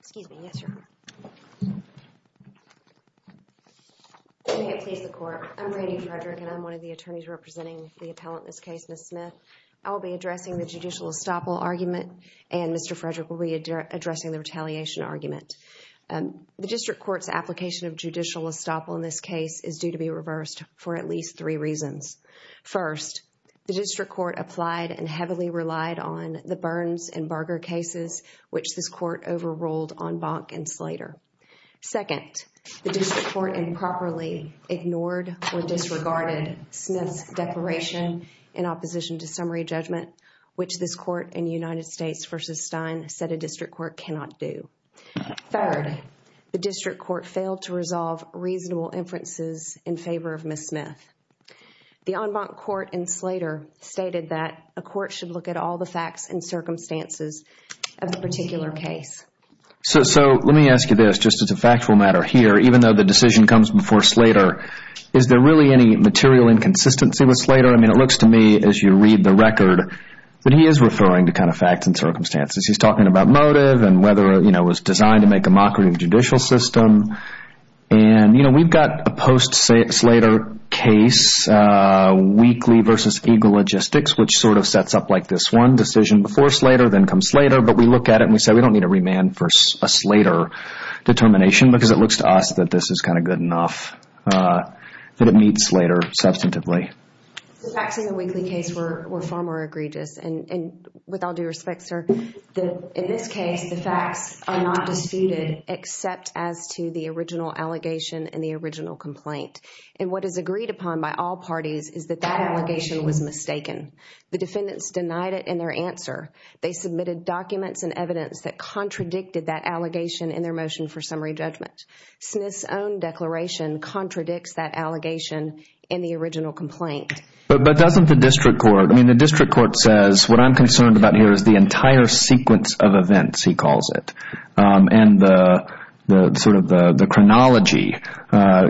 Excuse me. Yes, sir. May it please the court. I'm Randy Frederick and I'm one of the attorneys representing the appellant in this case, Ms. Smith. I will be addressing the judicial estoppel argument and Mr. Frederick will be addressing the retaliation argument. The district court's application of judicial estoppel in this case is due to be reversed for at least three reasons. First, the district court applied and heavily relied on the Burns and Berger cases, which this court overruled on Bonk and Slater. Second, the district court improperly ignored or disregarded Smith's declaration in opposition to summary judgment, which this court in United States v. Stein said a district court cannot do. Third, the district court failed to resolve reasonable inferences in favor of Ms. Smith. The en banc court in Slater stated that a court should the facts and circumstances of the particular case. So let me ask you this, just as a factual matter here, even though the decision comes before Slater, is there really any material inconsistency with Slater? I mean, it looks to me as you read the record that he is referring to kind of facts and circumstances. He's talking about motive and whether, you know, it was designed to make a mockery of the judicial system. And, you know, we've got a post Slater case, Weekly v. Eagle Logistics, which sort of sets up like this one decision before Slater, then comes Slater. But we look at it and we say we don't need a remand for a Slater determination because it looks to us that this is kind of good enough that it meets Slater substantively. The facts in the Weekly case were far more egregious. And with all due respect, sir, in this case, the facts are not disputed except as to the original allegation and the original complaint. And what is agreed upon by all parties is that that allegation was mistaken. The defendants denied it in their answer. They submitted documents and evidence that contradicted that allegation in their motion for summary judgment. Smith's own declaration contradicts that allegation in the original complaint. But doesn't the district court, I mean, the district court says what I'm concerned about here is the entire sequence of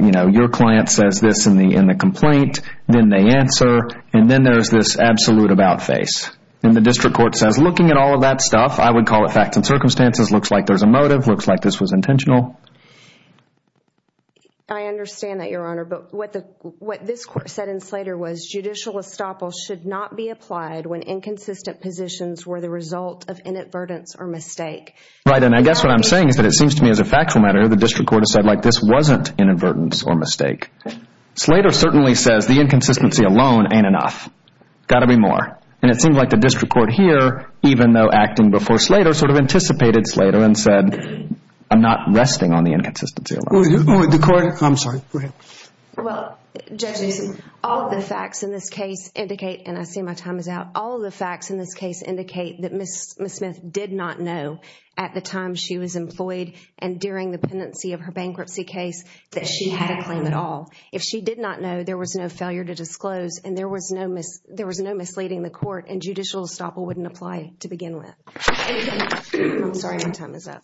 You know, your client says this in the complaint, then they answer. And then there's this absolute about face. And the district court says, looking at all of that stuff, I would call it facts and circumstances. Looks like there's a motive. Looks like this was intentional. I understand that, Your Honor. But what this court said in Slater was judicial estoppel should not be applied when inconsistent positions were the result of inadvertence or mistake. Right. And I guess what I'm saying is that it seems to me as a factual matter, the district court has said like this wasn't inadvertence or mistake. Slater certainly says the inconsistency alone ain't enough. Got to be more. And it seems like the district court here, even though acting before Slater, sort of anticipated Slater and said, I'm not resting on the inconsistency. I'm sorry. Go ahead. Well, judges, all the facts in this case indicate, and I see my time is out, all the facts in this case indicate that Ms. Smith did not know at the time she was employed and during the pendency of her bankruptcy case that she had a claim at all. If she did not know, there was no failure to disclose and there was no misleading the court and judicial estoppel wouldn't apply to begin with. I'm sorry. My time is up.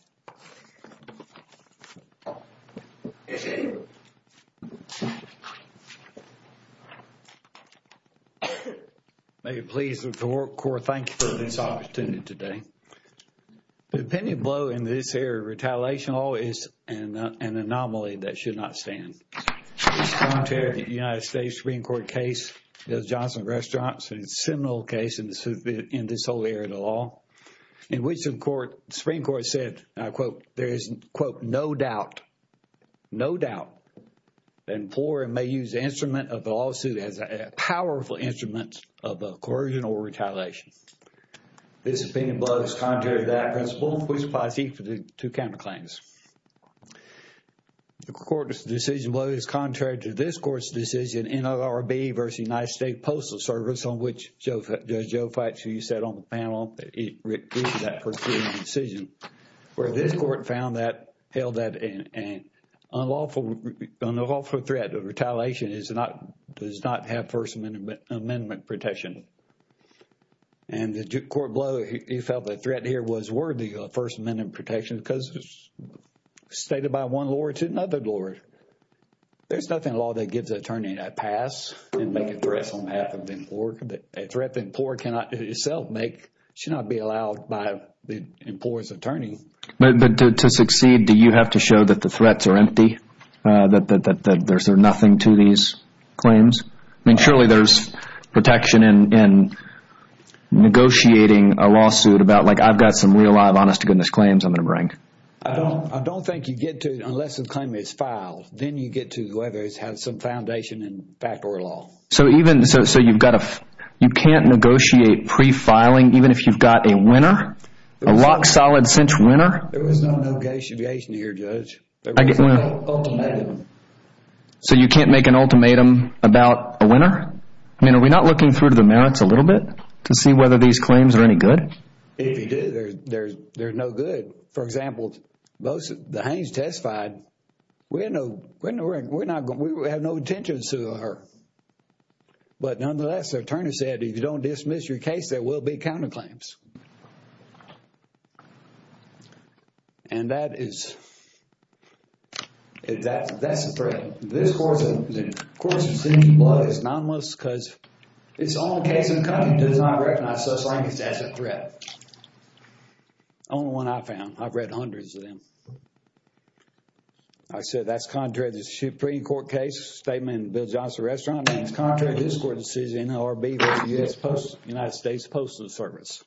May it please the court, thank you for this opportunity today. The opinion blow in this area of retaliation law is an anomaly that should not stand. It's contrary to the United States Supreme Court case, Bill Johnson Restaurant, a seminal case in this whole area of the law, in which the Supreme Court said, and I quote, there is, quote, no doubt, no doubt, the employer may use the instrument of the lawsuit as a powerful instrument of a coercion or retaliation. This opinion blow is contrary to that principle, which applies equally to counterclaims. The court's decision blow is contrary to this court's decision, NLRB versus United States Postal Service, on which Judge Joe Fuchs, who you said on the panel, it is that decision, where this court found that, held that an unlawful threat of retaliation is not, does not have First Amendment protection. And the court blow, he felt the threat here was worthy of First Amendment protection because it's stated by one law to another law. There's nothing in law that gives an attorney a pass and make a threat on behalf of the employer. A threat the employer cannot itself make should not be allowed by the employer's attorney. But to succeed, do you have to show that the threats are empty, that there's nothing to these claims? I mean, surely there's protection in negotiating a lawsuit about, like, I've got some real live honest to goodness claims I'm going to bring. I don't think you get to unless the claim is filed. Then you get to whether it has some foundation in fact or law. So even, so you've got to, you can't negotiate pre-filing even if you've got a winner? A lock, solid, cinch winner? There was no negation here, Judge. So you can't make an ultimatum about a winner? I mean, are we not looking through the merits a little bit to see whether these claims are any good? If you do, there's no good. For example, the Haines testified, we have no intentions to sue her. But nonetheless, the attorney said, if you don't dismiss your case, there will be counterclaims. And that is, that's a threat. This court's decision is anonymous because it's the only case in the country that does not recognize such language as a threat. The only one I've found, I've read hundreds of them. I said that's contrary to the Supreme Court case statement in Bill Johnson's restaurant, and it's contrary to this court's decision, NLRB versus the United States Postal Service,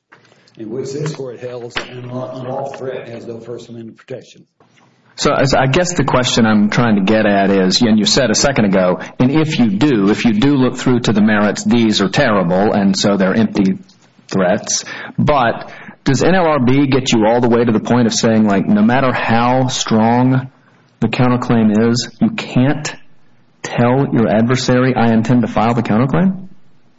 in which this court held an unlawful threat and has no first amendment protection. So I guess the question I'm trying to get at is, and you said a second ago, and if you do, if you do look through to the merits, these are terrible, and so they're empty threats. But does NLRB get you all the way to the point of saying, like, no matter how strong the counterclaim is, you can't tell your adversary, I intend to file the counterclaim?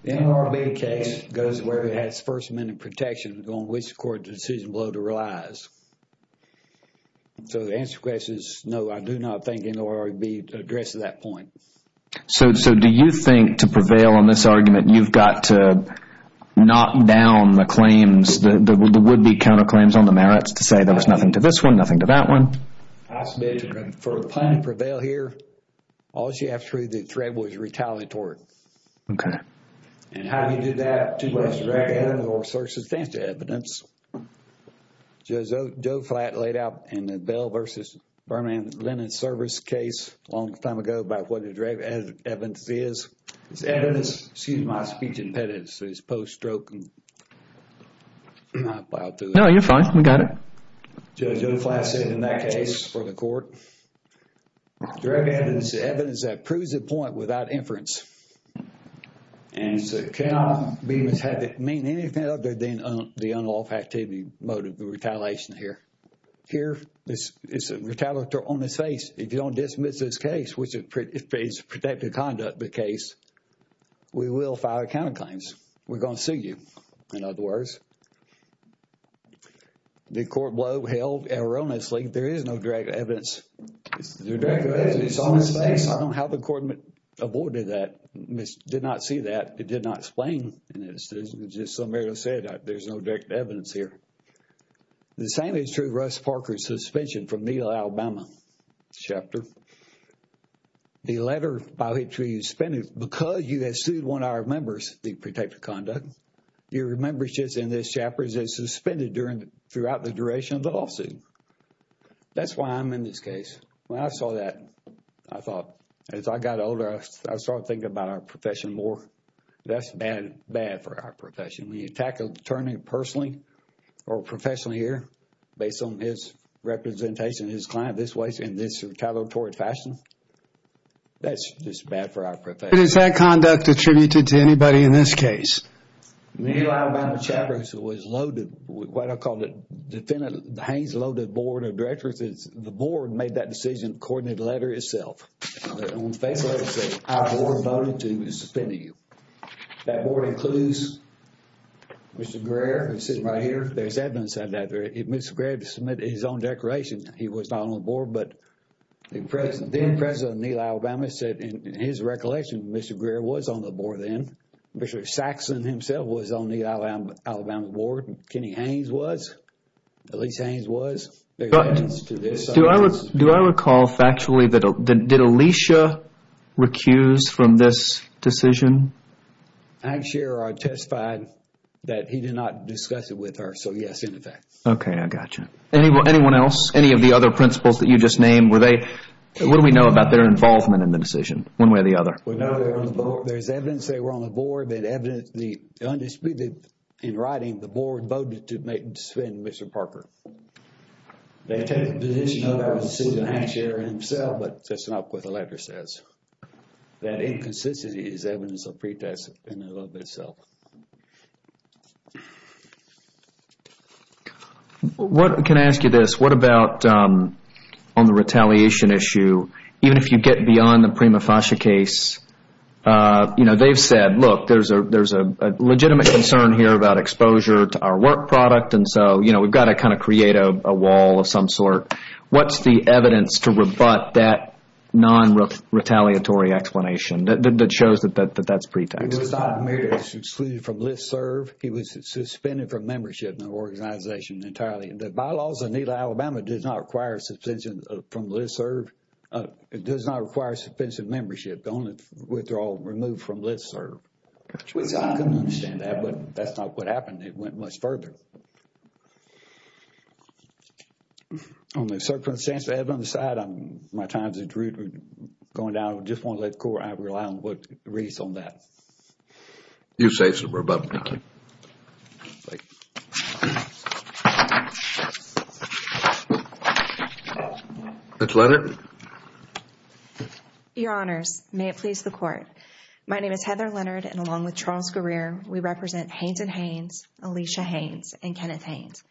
The NLRB case goes where it has first amendment protection on which the court's decision below to realize. So the answer to the question is, no, I do not think NLRB addresses that point. So do you think to prevail on this argument, you've got to knock down the claims, the would-be counterclaims on the merits to say there was nothing to this one, nothing to that one? For the plan to prevail here, all you have to prove the threat was retaliatory. Okay. And how do you do that? Two ways to look at it, or search the evidence. Joe Flatt laid out in the Bell versus Berman Lennon service case a long time ago about what evidence is. It's evidence, excuse my speech impedances, post-stroke and I plowed through it. No, you're fine, we got it. Judge Joe Flatt said in that case for the court, direct evidence is evidence that proves a point without inference. And so cannot be mishead to mean anything other than the unlawful activity motive of retaliation here. Here, it's a retaliatory on the face. If you don't dismiss this case, which is protected conduct, the case, we will file counterclaims. We're going to sue you. In other words, the court blow held erroneously, there is no direct evidence. How the court avoided that, did not see that, it did not explain, and it's just some area to say that there's no direct evidence here. The same is true of Russ Parker's suspension from Neil Alabama chapter. The letter by which we suspended, because you have sued one of our members, the protected conduct, your membership in this chapter is suspended throughout the duration of the lawsuit. That's why I'm in this case. When I saw that, I thought, as I got older, I started thinking about our profession more. That's bad for our profession. When you tackle the attorney personally or professionally here, based on his representation, his client, this way, in this retaliatory fashion, that's just bad for our profession. But is that conduct attributed to anybody in this case? Neil Alabama chapter was loaded with what I call the defendant, the Haines loaded board of directors. The board made that decision according to the letter itself. On the face of it, it said, our board voted to suspend you. That board includes Mr. Greer, who's sitting right here. There's evidence of that. Mr. Greer submitted his own declaration. He was not on the board, but then President Neil Alabama said, in his recollection, Mr. Greer was on the board then. Mr. Saxon himself was on the Alabama board. Kenny Haines was. Elyse Haines was. Do I recall factually, did Elyse recuse from this decision? Hank Scherer testified that he did not discuss it with her. So, yes, in effect. Okay, I got you. Anyone else? Any of the other principals that you just named, were they, what do we know about their involvement in the decision, one way or the other? We know they were on the board. There's evidence they were on the board. They had evidence, the undisputed, in writing, the board voted to suspend Mr. Parker. They take the position that that was a decision of Hank Scherer himself, but that's not what the letter says. That inconsistency is evidence of pretest in and of itself. Can I ask you this? What about on the retaliation issue? Even if you get beyond the Prima Fascia case, they've said, look, there's a legitimate concern here about exposure to our work product, and so we've got to kind of create a wall of some sort. What's the evidence to rebut that non-retaliatory explanation that shows that that's pretext? He was not admitted as excluded from listserv. He was suspended from membership in the organization entirely. The bylaws of NELA Alabama does not require suspension from listserv. It does not require suspension of membership. The only withdrawal removed from listserv. I can understand that, but that's not what happened. It went much further. On the circumstance of Edmund's side, my time is at root going down. I just want to let the court, I rely on what it reads on that. You say some rebuttal. Thank you. Ms. Leonard? Your honors, may it please the court. My name is Heather Leonard, and along with Charles Guerrero, we represent Haynes & Haynes, Alicia Haynes, and Kenneth Haynes.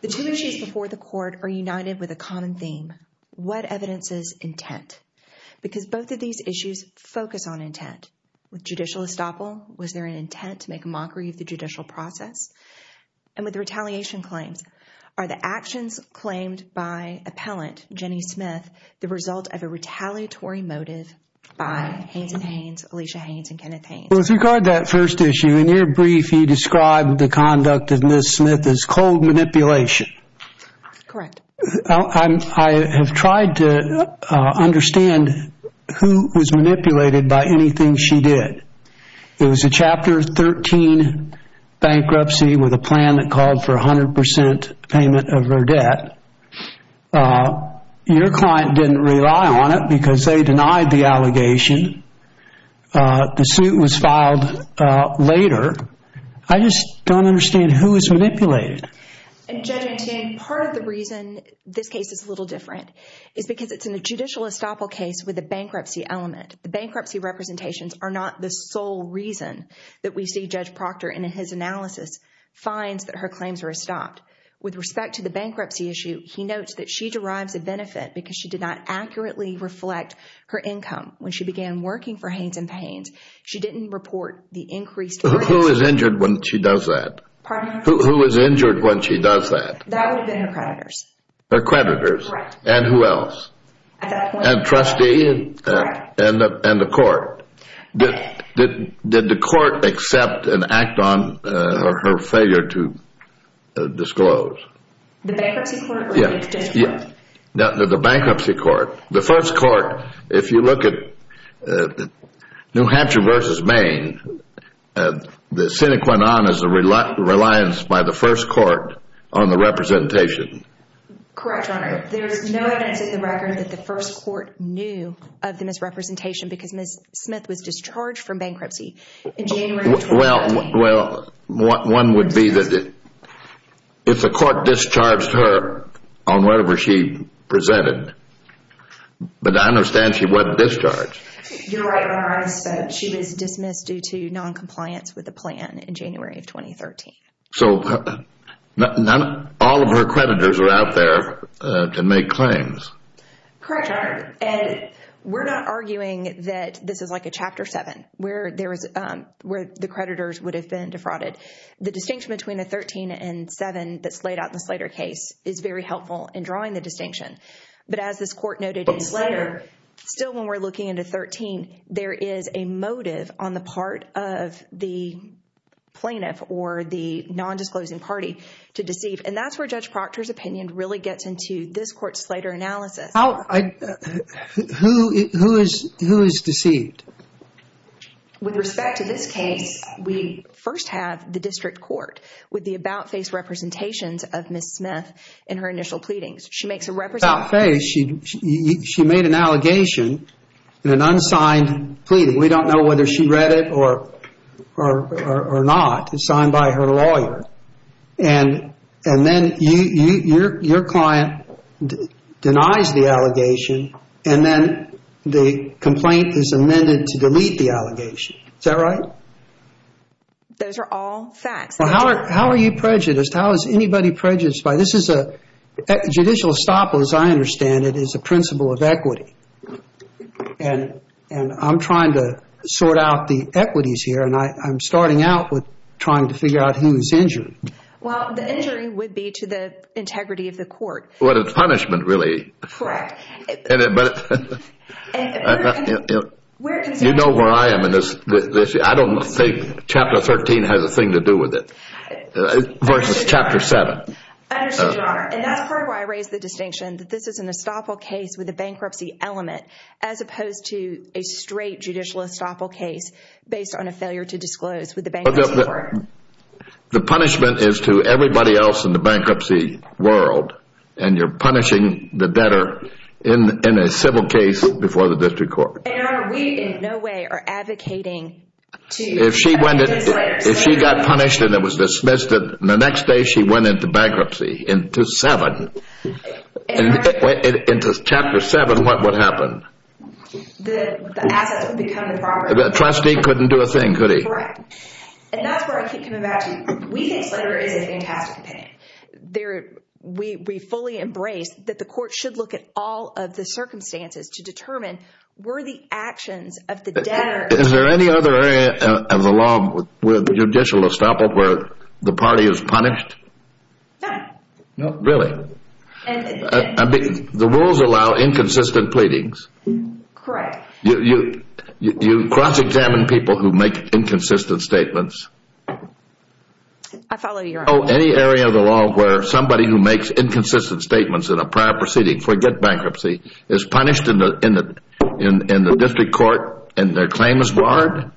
The two issues before the court are united with a common theme, what evidence is intent? Because both of these issues focus on intent. With judicial estoppel, was there an intent to make a mockery of the judicial process? And with the retaliation claims, are the actions claimed by appellant Jenny Smith the result of a retaliatory motive by Haynes & Haynes, Alicia Haynes, and Kenneth Haynes? With regard to that first issue, in your brief, you described the conduct of Ms. Smith as cold manipulation. Correct. I have tried to understand who was manipulated by anything she did. It was a Chapter 13 bankruptcy with a plan that called for 100% payment of her debt. Your client didn't rely on it because they denied the allegation. The suit was filed later. I just don't understand who was manipulated. And Judge Antion, part of the reason this case is a little different is because it's in a judicial estoppel case with a bankruptcy element. The bankruptcy representations are not the sole reason that we see Judge Proctor in his analysis finds that her claims are estopped. With respect to the bankruptcy issue, he notes that she derives a benefit because she did not accurately reflect her income when she began working for Haynes & Haynes. She didn't report the increased... Who is injured when she does that? Pardon me? Who is injured when she does that? That would have been her creditors. Her creditors. Correct. And who else? And the trustee and the court. Did the court accept and act on her failure to disclose? The bankruptcy court. The bankruptcy court. The first court, if you look at New Hampshire versus Maine, the sine qua non is the reliance by the first court on the representation. Correct, Your Honor. There is no evidence in the record that the first court knew of the misrepresentation because Ms. Smith was discharged from bankruptcy in January... Well, one would be that if the court discharged her on whatever she presented, but I understand she wasn't discharged. You're right, Your Honor. She was dismissed due to all of her creditors were out there to make claims. Correct, Your Honor. And we're not arguing that this is like a Chapter 7 where the creditors would have been defrauded. The distinction between the 13 and 7 that's laid out in the Slater case is very helpful in drawing the distinction. But as this court noted in Slater, still when we're looking into 13, there is a motive on the part of the plaintiff or the nondisclosing party to deceive. And that's where Judge Proctor's opinion really gets into this court's Slater analysis. Who is deceived? With respect to this case, we first have the district court with the about-face representations of Ms. Smith in her initial pleadings. She makes a representation... About-face, she made an allegation in an unsigned pleading. We don't know whether she read it or not. It's signed by her lawyer. And then your client denies the allegation and then the complaint is amended to delete the allegation. Is that right? Those are all facts. How are you prejudiced? How is anybody prejudiced by this? Judicial estoppel, as I understand it, is a principle of equity. And I'm trying to sort out the equities here. And I'm starting out with trying to figure out who's injured. Well, the injury would be to the integrity of the court. Well, it's punishment, really. Correct. You know where I am in this. I don't think Chapter 13 has a thing to do with it versus Chapter 7. I understand, Your Honor. And that's part of why I raised the distinction that this is an estoppel case with a bankruptcy element as opposed to a straight judicial estoppel case based on a failure to disclose with the bankruptcy court. The punishment is to everybody else in the bankruptcy world. And you're punishing the debtor in a civil case before the district court. Your Honor, we in no way are advocating to... If she got punished and it was dismissed, then the next day she went into bankruptcy. Into Chapter 7, what would happen? The assets would become improper. The trustee couldn't do a thing, could he? Correct. And that's where I keep coming back to, we think Slater is a fantastic opinion. We fully embrace that the court should look at all of the circumstances to determine worthy actions of the debtor. Is there any other area of the law with judicial estoppel where the party is punished? No. No, really? The rules allow inconsistent pleadings. Correct. You cross-examine people who make inconsistent statements? I follow you, Your Honor. Any area of the law where somebody who makes inconsistent statements in a prior proceeding, forget bankruptcy, is punished in the district court and their claim is warranted?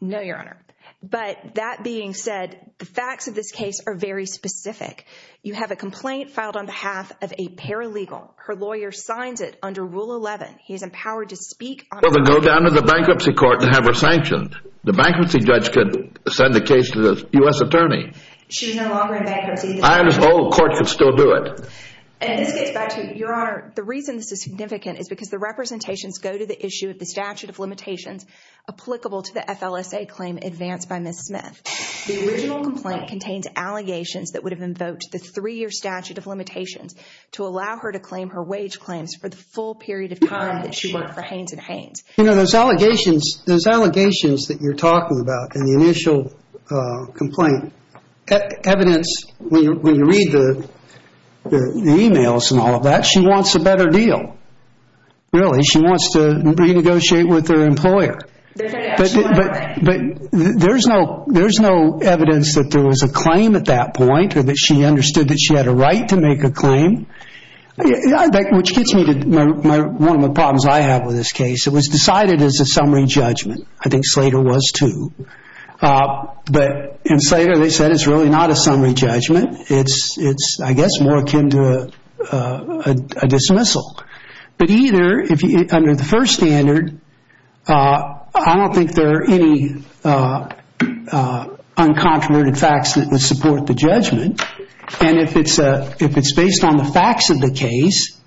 No, Your Honor. But that being said, the facts of this case are very specific. You have a complaint filed on behalf of a paralegal. Her lawyer signs it under Rule 11. He is empowered to speak on behalf... Well, then go down to the bankruptcy court and have her sanctioned. The bankruptcy judge could send the case to the U.S. attorney. She's no longer in bankruptcy. I understand the court could still do it. And this gets back to, Your Honor, the reason this is significant is because the representations go to the issue of the statute of limitations applicable to the FLSA claim advanced by Ms. Smith. The original complaint contains allegations that would have invoked the three-year statute of limitations to allow her to claim her wage claims for the full period of time that she worked for Haynes & Haynes. You know, those allegations that you're talking about in the initial complaint, evidence, when you read the emails and all of that, she wants a better deal. Really, she wants to renegotiate with her employer. But there's no evidence that there was a claim at that point or that she understood that she had a right to make a claim. Which gets me to one of the problems I have with this case. It was decided as a summary judgment. I think Slater was too. But in Slater, they said it's really not a summary judgment. It's, I guess, more akin to a dismissal. But either, under the first standard, I don't think there are any uncontroverted facts that would support the judgment. And if it's based on the facts of the case,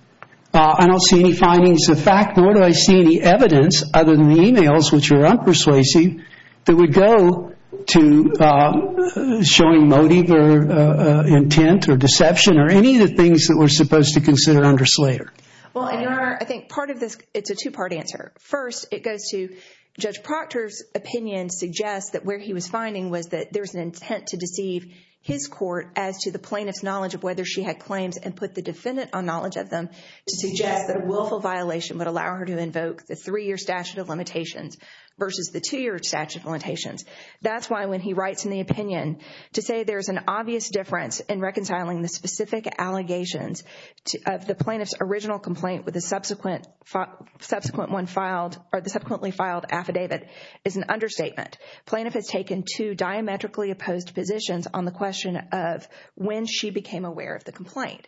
I don't see any findings of fact, nor do I see any evidence other than the emails, which are unpersuasive, that would go to showing motive or deception or any of the things that we're supposed to consider under Slater. Well, Your Honor, I think part of this, it's a two-part answer. First, it goes to Judge Proctor's opinion suggests that where he was finding was that there was an intent to deceive his court as to the plaintiff's knowledge of whether she had claims and put the defendant on knowledge of them to suggest that a willful violation would allow her to invoke the three-year statute of limitations versus the two-year statute of limitations. That's why when he writes in the opinion to say there's an obvious difference in reconciling the specific allegations of the plaintiff's original complaint with the subsequently filed affidavit is an understatement. Plaintiff has taken two diametrically opposed positions on the question of when she became aware of the complaint.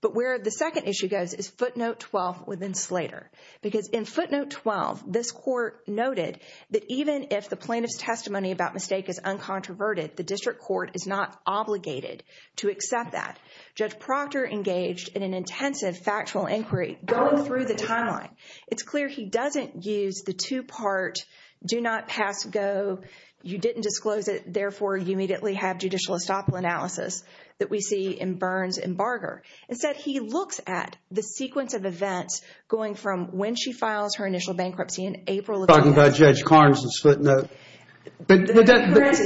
But where the second issue goes is footnote 12 within Slater. Because in footnote 12, this court noted that even if the plaintiff's testimony about mistake is uncontroverted, the district court is not obligated to accept that. Judge Proctor engaged in an intensive factual inquiry going through the timeline. It's clear he doesn't use the two-part do not pass go, you didn't disclose it, therefore you immediately have judicial estoppel analysis that we see in Burns and Barger. Instead, he looks at the sequence of events going from when she occurred, discusses the footnote, but footnote 12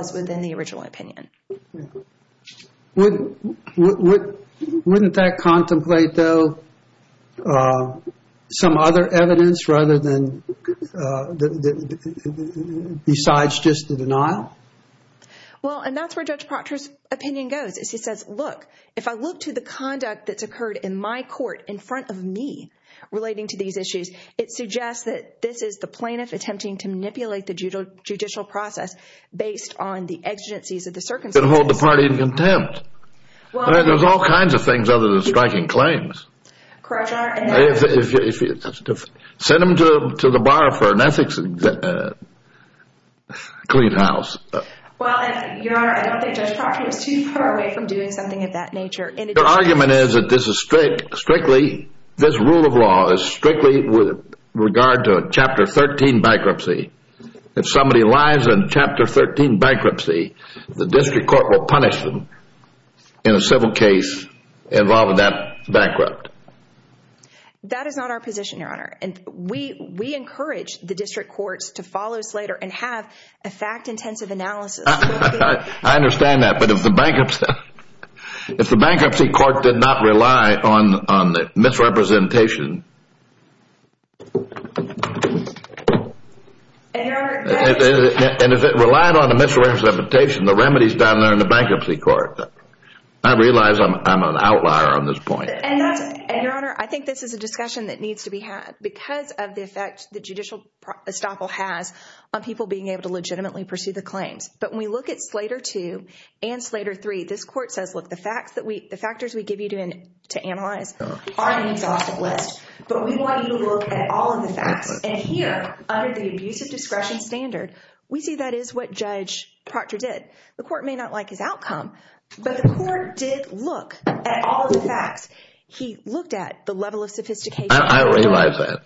is within the original opinion. Wouldn't that contemplate though some other evidence besides just the denial? Well, and that's where Judge Proctor's opinion goes is he says, look, if I look to the conduct that's occurred in my court in front of me relating to these issues, it suggests that this is the plaintiff attempting to manipulate the judicial process based on the exigencies of the circumstances. And hold the party in contempt. There's all kinds of things other than striking claims. Correct, Your Honor. Send them to the bar for an ethics clean house. Well, Your Honor, I don't think Judge Proctor is too far away from doing something of that nature. Your argument is that this is strictly, this rule of law is strictly with regard to a Chapter 13 bankruptcy. If somebody lies in Chapter 13 bankruptcy, the district court will punish them in a civil case involving that bankrupt. That is not our position, Your Honor. And we encourage the district courts to follow Slater and have a fact-intensive analysis. I understand that, but if the bankruptcy court did not rely on the misrepresentation, and if it relied on the misrepresentation, the remedies down there in the bankruptcy court, I realize I'm an outlier on this point. And Your Honor, I think this is a discussion that needs to be had because of the effect the judicial estoppel has on people being able to legitimately pursue the claims. But when we look at Slater 2 and Slater 3, this court says, look, the facts that we, the factors we give you to analyze are an exhaustive list, but we want you to look at all of the facts. And here, under the abuse of discretion standard, we see that is what Judge Proctor did. The court may not like his outcome, but the court did look at all of the facts. He looked at the level of sophistication. I realize that.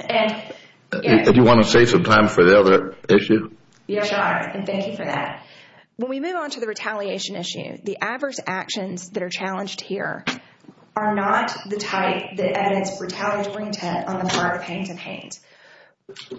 And if you want to save some time for the other issue? Yes, Your Honor, and thank you for that. When we move on to the retaliation issue, the adverse actions that are challenged here are not the type that evidence retaliatory intent on the part of Haines and Haines,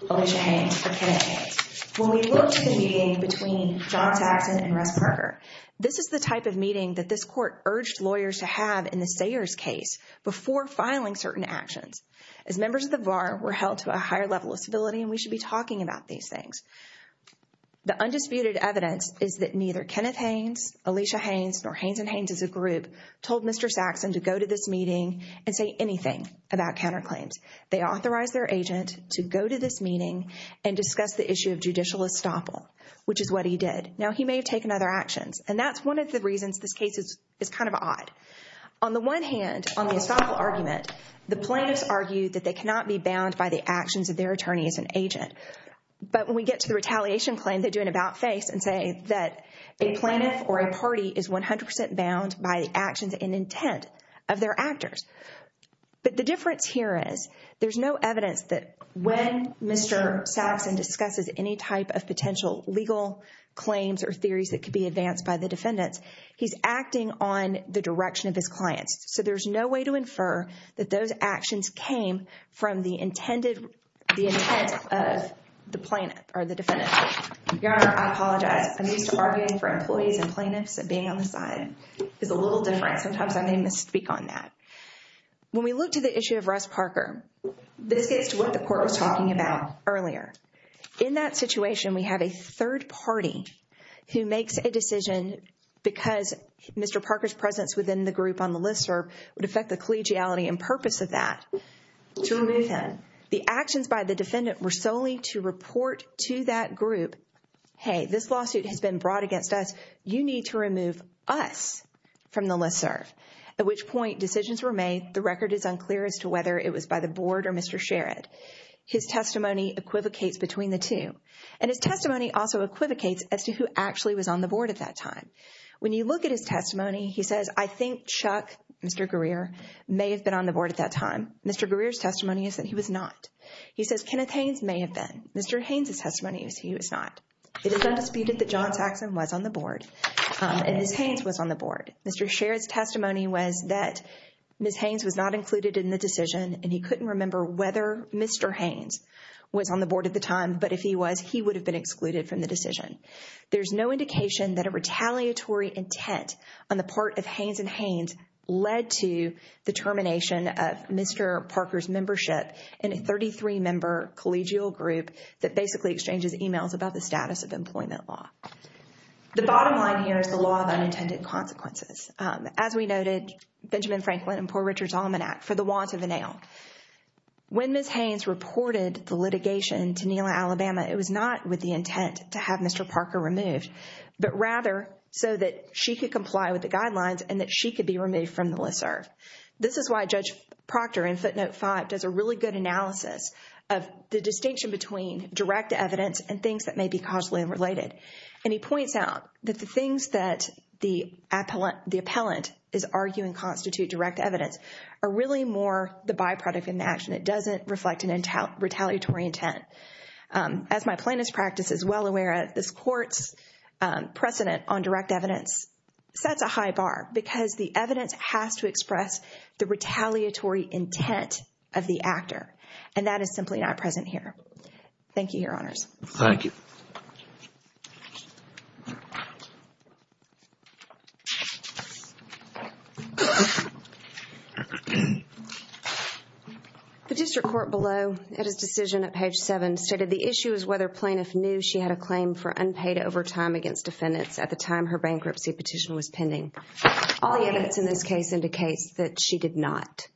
Alicia Haines or Kenneth Haines. When we look to the meeting between John Saxon and Russ Parker, this is the type of meeting that this court urged lawyers to have in the Sayers case before filing certain actions. As members of the bar, we're held to a higher level of civility, and we should be talking about these things. The undisputed evidence is that neither Kenneth Haines, Alicia Haines, nor Haines and Haines as a group told Mr. Saxon to go to this meeting and say anything about counterclaims. They authorized their agent to go to this meeting and discuss the issue of judicial estoppel, which is what he did. Now, he may have taken other actions, and that's one of the reasons this case is kind of odd. On the one hand, on the estoppel But when we get to the retaliation claim, they do an about-face and say that a plaintiff or a party is 100% bound by the actions and intent of their actors. But the difference here is there's no evidence that when Mr. Saxon discusses any type of potential legal claims or theories that could be advanced by the defendants, he's acting on the direction of his clients. So there's no way to of the plaintiff or the defendant. Your Honor, I apologize. I'm used to arguing for employees and plaintiffs and being on the side. It's a little different. Sometimes I may misspeak on that. When we look to the issue of Russ Parker, this gets to what the court was talking about earlier. In that situation, we have a third party who makes a decision because Mr. Parker's presence within the group on the listserv would affect the collegiality and purpose of that. To remove him, the actions by the defendant were solely to report to that group, hey, this lawsuit has been brought against us. You need to remove us from the listserv. At which point, decisions were made. The record is unclear as to whether it was by the board or Mr. Sherrod. His testimony equivocates between the two. And his testimony also equivocates as to who actually was on the board at that time. When you look at his testimony, he says, I think Chuck, Mr. Greer, may have been on the board at that time. Mr. Greer's testimony is that he was not. He says Kenneth Haynes may have been. Mr. Haynes' testimony is he was not. It is undisputed that John Saxon was on the board and Ms. Haynes was on the board. Mr. Sherrod's testimony was that Ms. Haynes was not included in the decision and he couldn't remember whether Mr. Haynes was on the board at the time. But if he was, he would have been excluded from the decision. There's no indication that a retaliatory intent on the part of Haynes and Haynes led to the termination of Mr. Parker's membership in a 33-member collegial group that basically exchanges emails about the status of employment law. The bottom line here is the law of unintended consequences. As we noted, Benjamin Franklin and poor Richard's Almanac, for the want of a nail. When Ms. Haynes reported the litigation to she could comply with the guidelines and that she could be removed from the listserv. This is why Judge Proctor in footnote five does a really good analysis of the distinction between direct evidence and things that may be causally related. And he points out that the things that the appellant is arguing constitute direct evidence are really more the byproduct in the action. It doesn't reflect an retaliatory intent. As my plaintiff's practice is well aware, this sets a high bar because the evidence has to express the retaliatory intent of the actor. And that is simply not present here. Thank you, your honors. Thank you. The district court below at his decision at page seven stated the issue is whether plaintiff knew she had a claim for unpaid overtime against defendants at the time her bankruptcy petition was pending. All the evidence in this case indicates that she did not.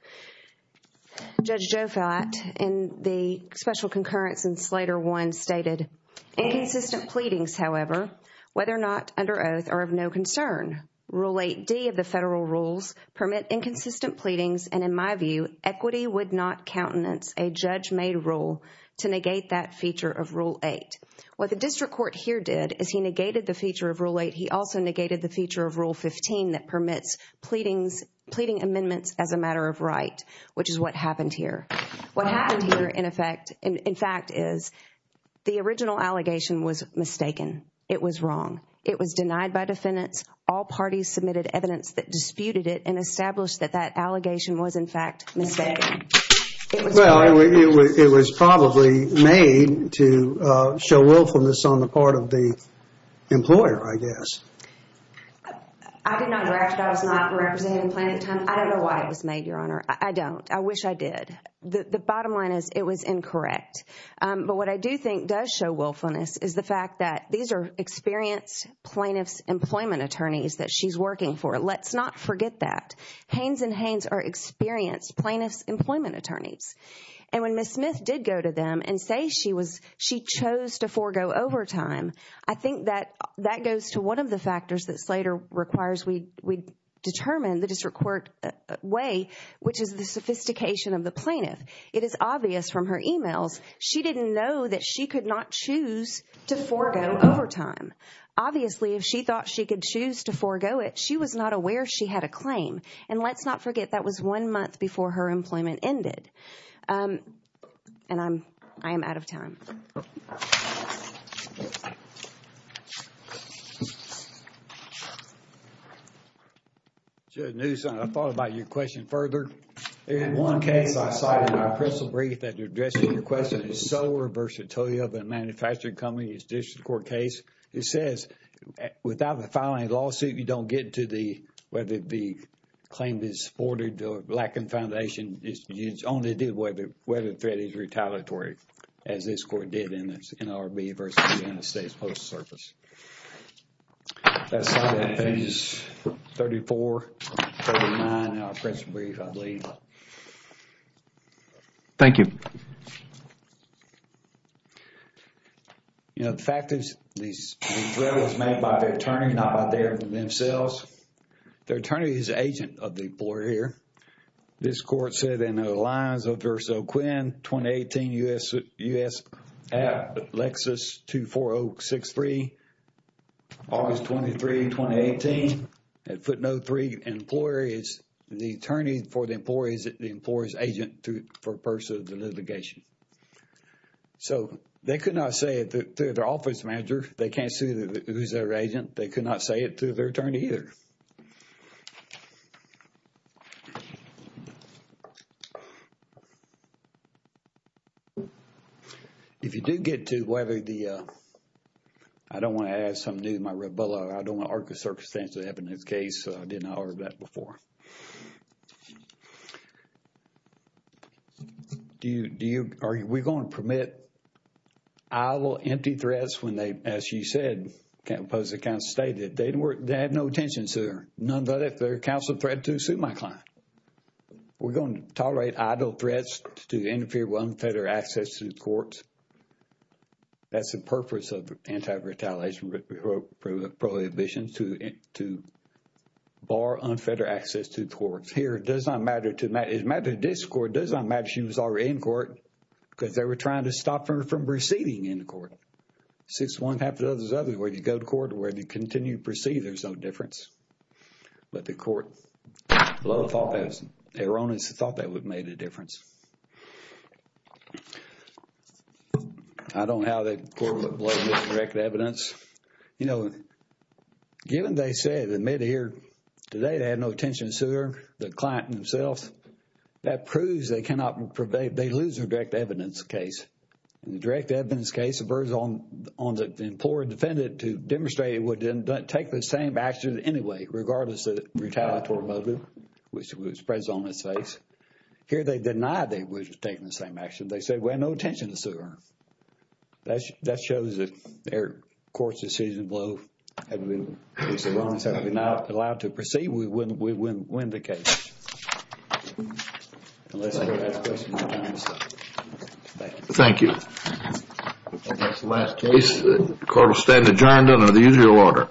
Judge Joe Felt in the special concurrence in Slater one stated inconsistent pleadings, however, whether or not under oath are of no concern. Rule eight D of the federal rules permit inconsistent pleadings. And in my view, equity would not countenance a judge made rule to negate that feature of rule eight. What the district court here did is he negated the feature of rule eight. He also negated the feature of rule 15 that permits pleadings, pleading amendments as a matter of right, which is what happened here. What happened here, in effect, in fact, is the original allegation was mistaken. It was wrong. It was denied by defendants. All parties submitted evidence that disputed it and established that that allegation was, in fact, mistaken. Well, it was probably made to show willfulness on the part of the employer, I guess. I did not direct it. I was not representing plaintiff at the time. I don't know why it was made, your honor. I don't. I wish I did. The bottom line is it was incorrect. But what I do think does show willfulness is the fact that these are experienced plaintiff's employment attorneys that she's working for. Let's not forget that. Haynes and Haynes are experienced plaintiff's employment attorneys. And when Ms. Smith did go to them and say she was, she chose to forego overtime, I think that that goes to one of the factors that Slater requires we determine the district court way, which is the sophistication of the plaintiff. It is obvious from her emails. She didn't know that she could not choose to forego overtime. Obviously, if she thought she could choose to forego it, she was not aware she had a claim. And let's not forget that was one month before her employment ended. And I'm, I am out of time. Judge Newsom, I thought about your question further. In one case, I cited my personal brief that addresses your question is so versatile that a manufacturing company's district court case, it says without filing a lawsuit, you don't get to the, whether it be claim is supported or lack of foundation, you only do whether the threat is retaliatory, as this court did in its NRB versus the United States Postal Service. That side of that thing is 34, 39, our personal brief, I believe. Thank you. You know, the fact is, the threat was made by the attorney, not by themselves. Their attorney is the agent of the employer here. This court said in the lines of Verso Quinn, 2018, U.S. App, Lexus 24063, August 23, 2018, at footnote three, employer is, the attorney for the employer is the employer's agent for purpose of the litigation. So, they could not say it to their office manager. They can't say who's their agent. They could not say it to their attorney either. If you do get to whether the, I don't want to add something to my red bullet. I don't want to argue a circumstance that happened in this case. I did not hear that before. Do you, are we going to permit idle, empty threats when they, as you said, as the counsel stated, they didn't work, they had no attention to her. None of that if they're counseled threat to sue my client. We're going to tolerate idle threats to interfere with unfettered access to the courts. That's the purpose of anti-retaliation prohibition to bar unfettered access to the courts. Here, it does not matter to, it matters to this court, it does not matter she was already in court because they were trying to stop her from receding in the court. Since one after the other, where you go to court, where you continue to proceed, there's no difference. But the court thought that, erroneously thought that would have made a difference. I don't know how that court would blame this direct evidence. You know, given they said, admitted here today they had no attention to her, the client himself, that proves they lose their direct evidence case. In the direct evidence case, it was on the employer defendant to demonstrate it would take the same action anyway, regardless of the retaliatory motive, which was presented on its face. Here, they denied they were taking the same action. They said, we had no attention to sue her. That shows that their court's decision blow had been erroneous, not allowed to proceed. We wouldn't win the case. Thank you. And that's the last case. The court will stand adjourned under the usual order.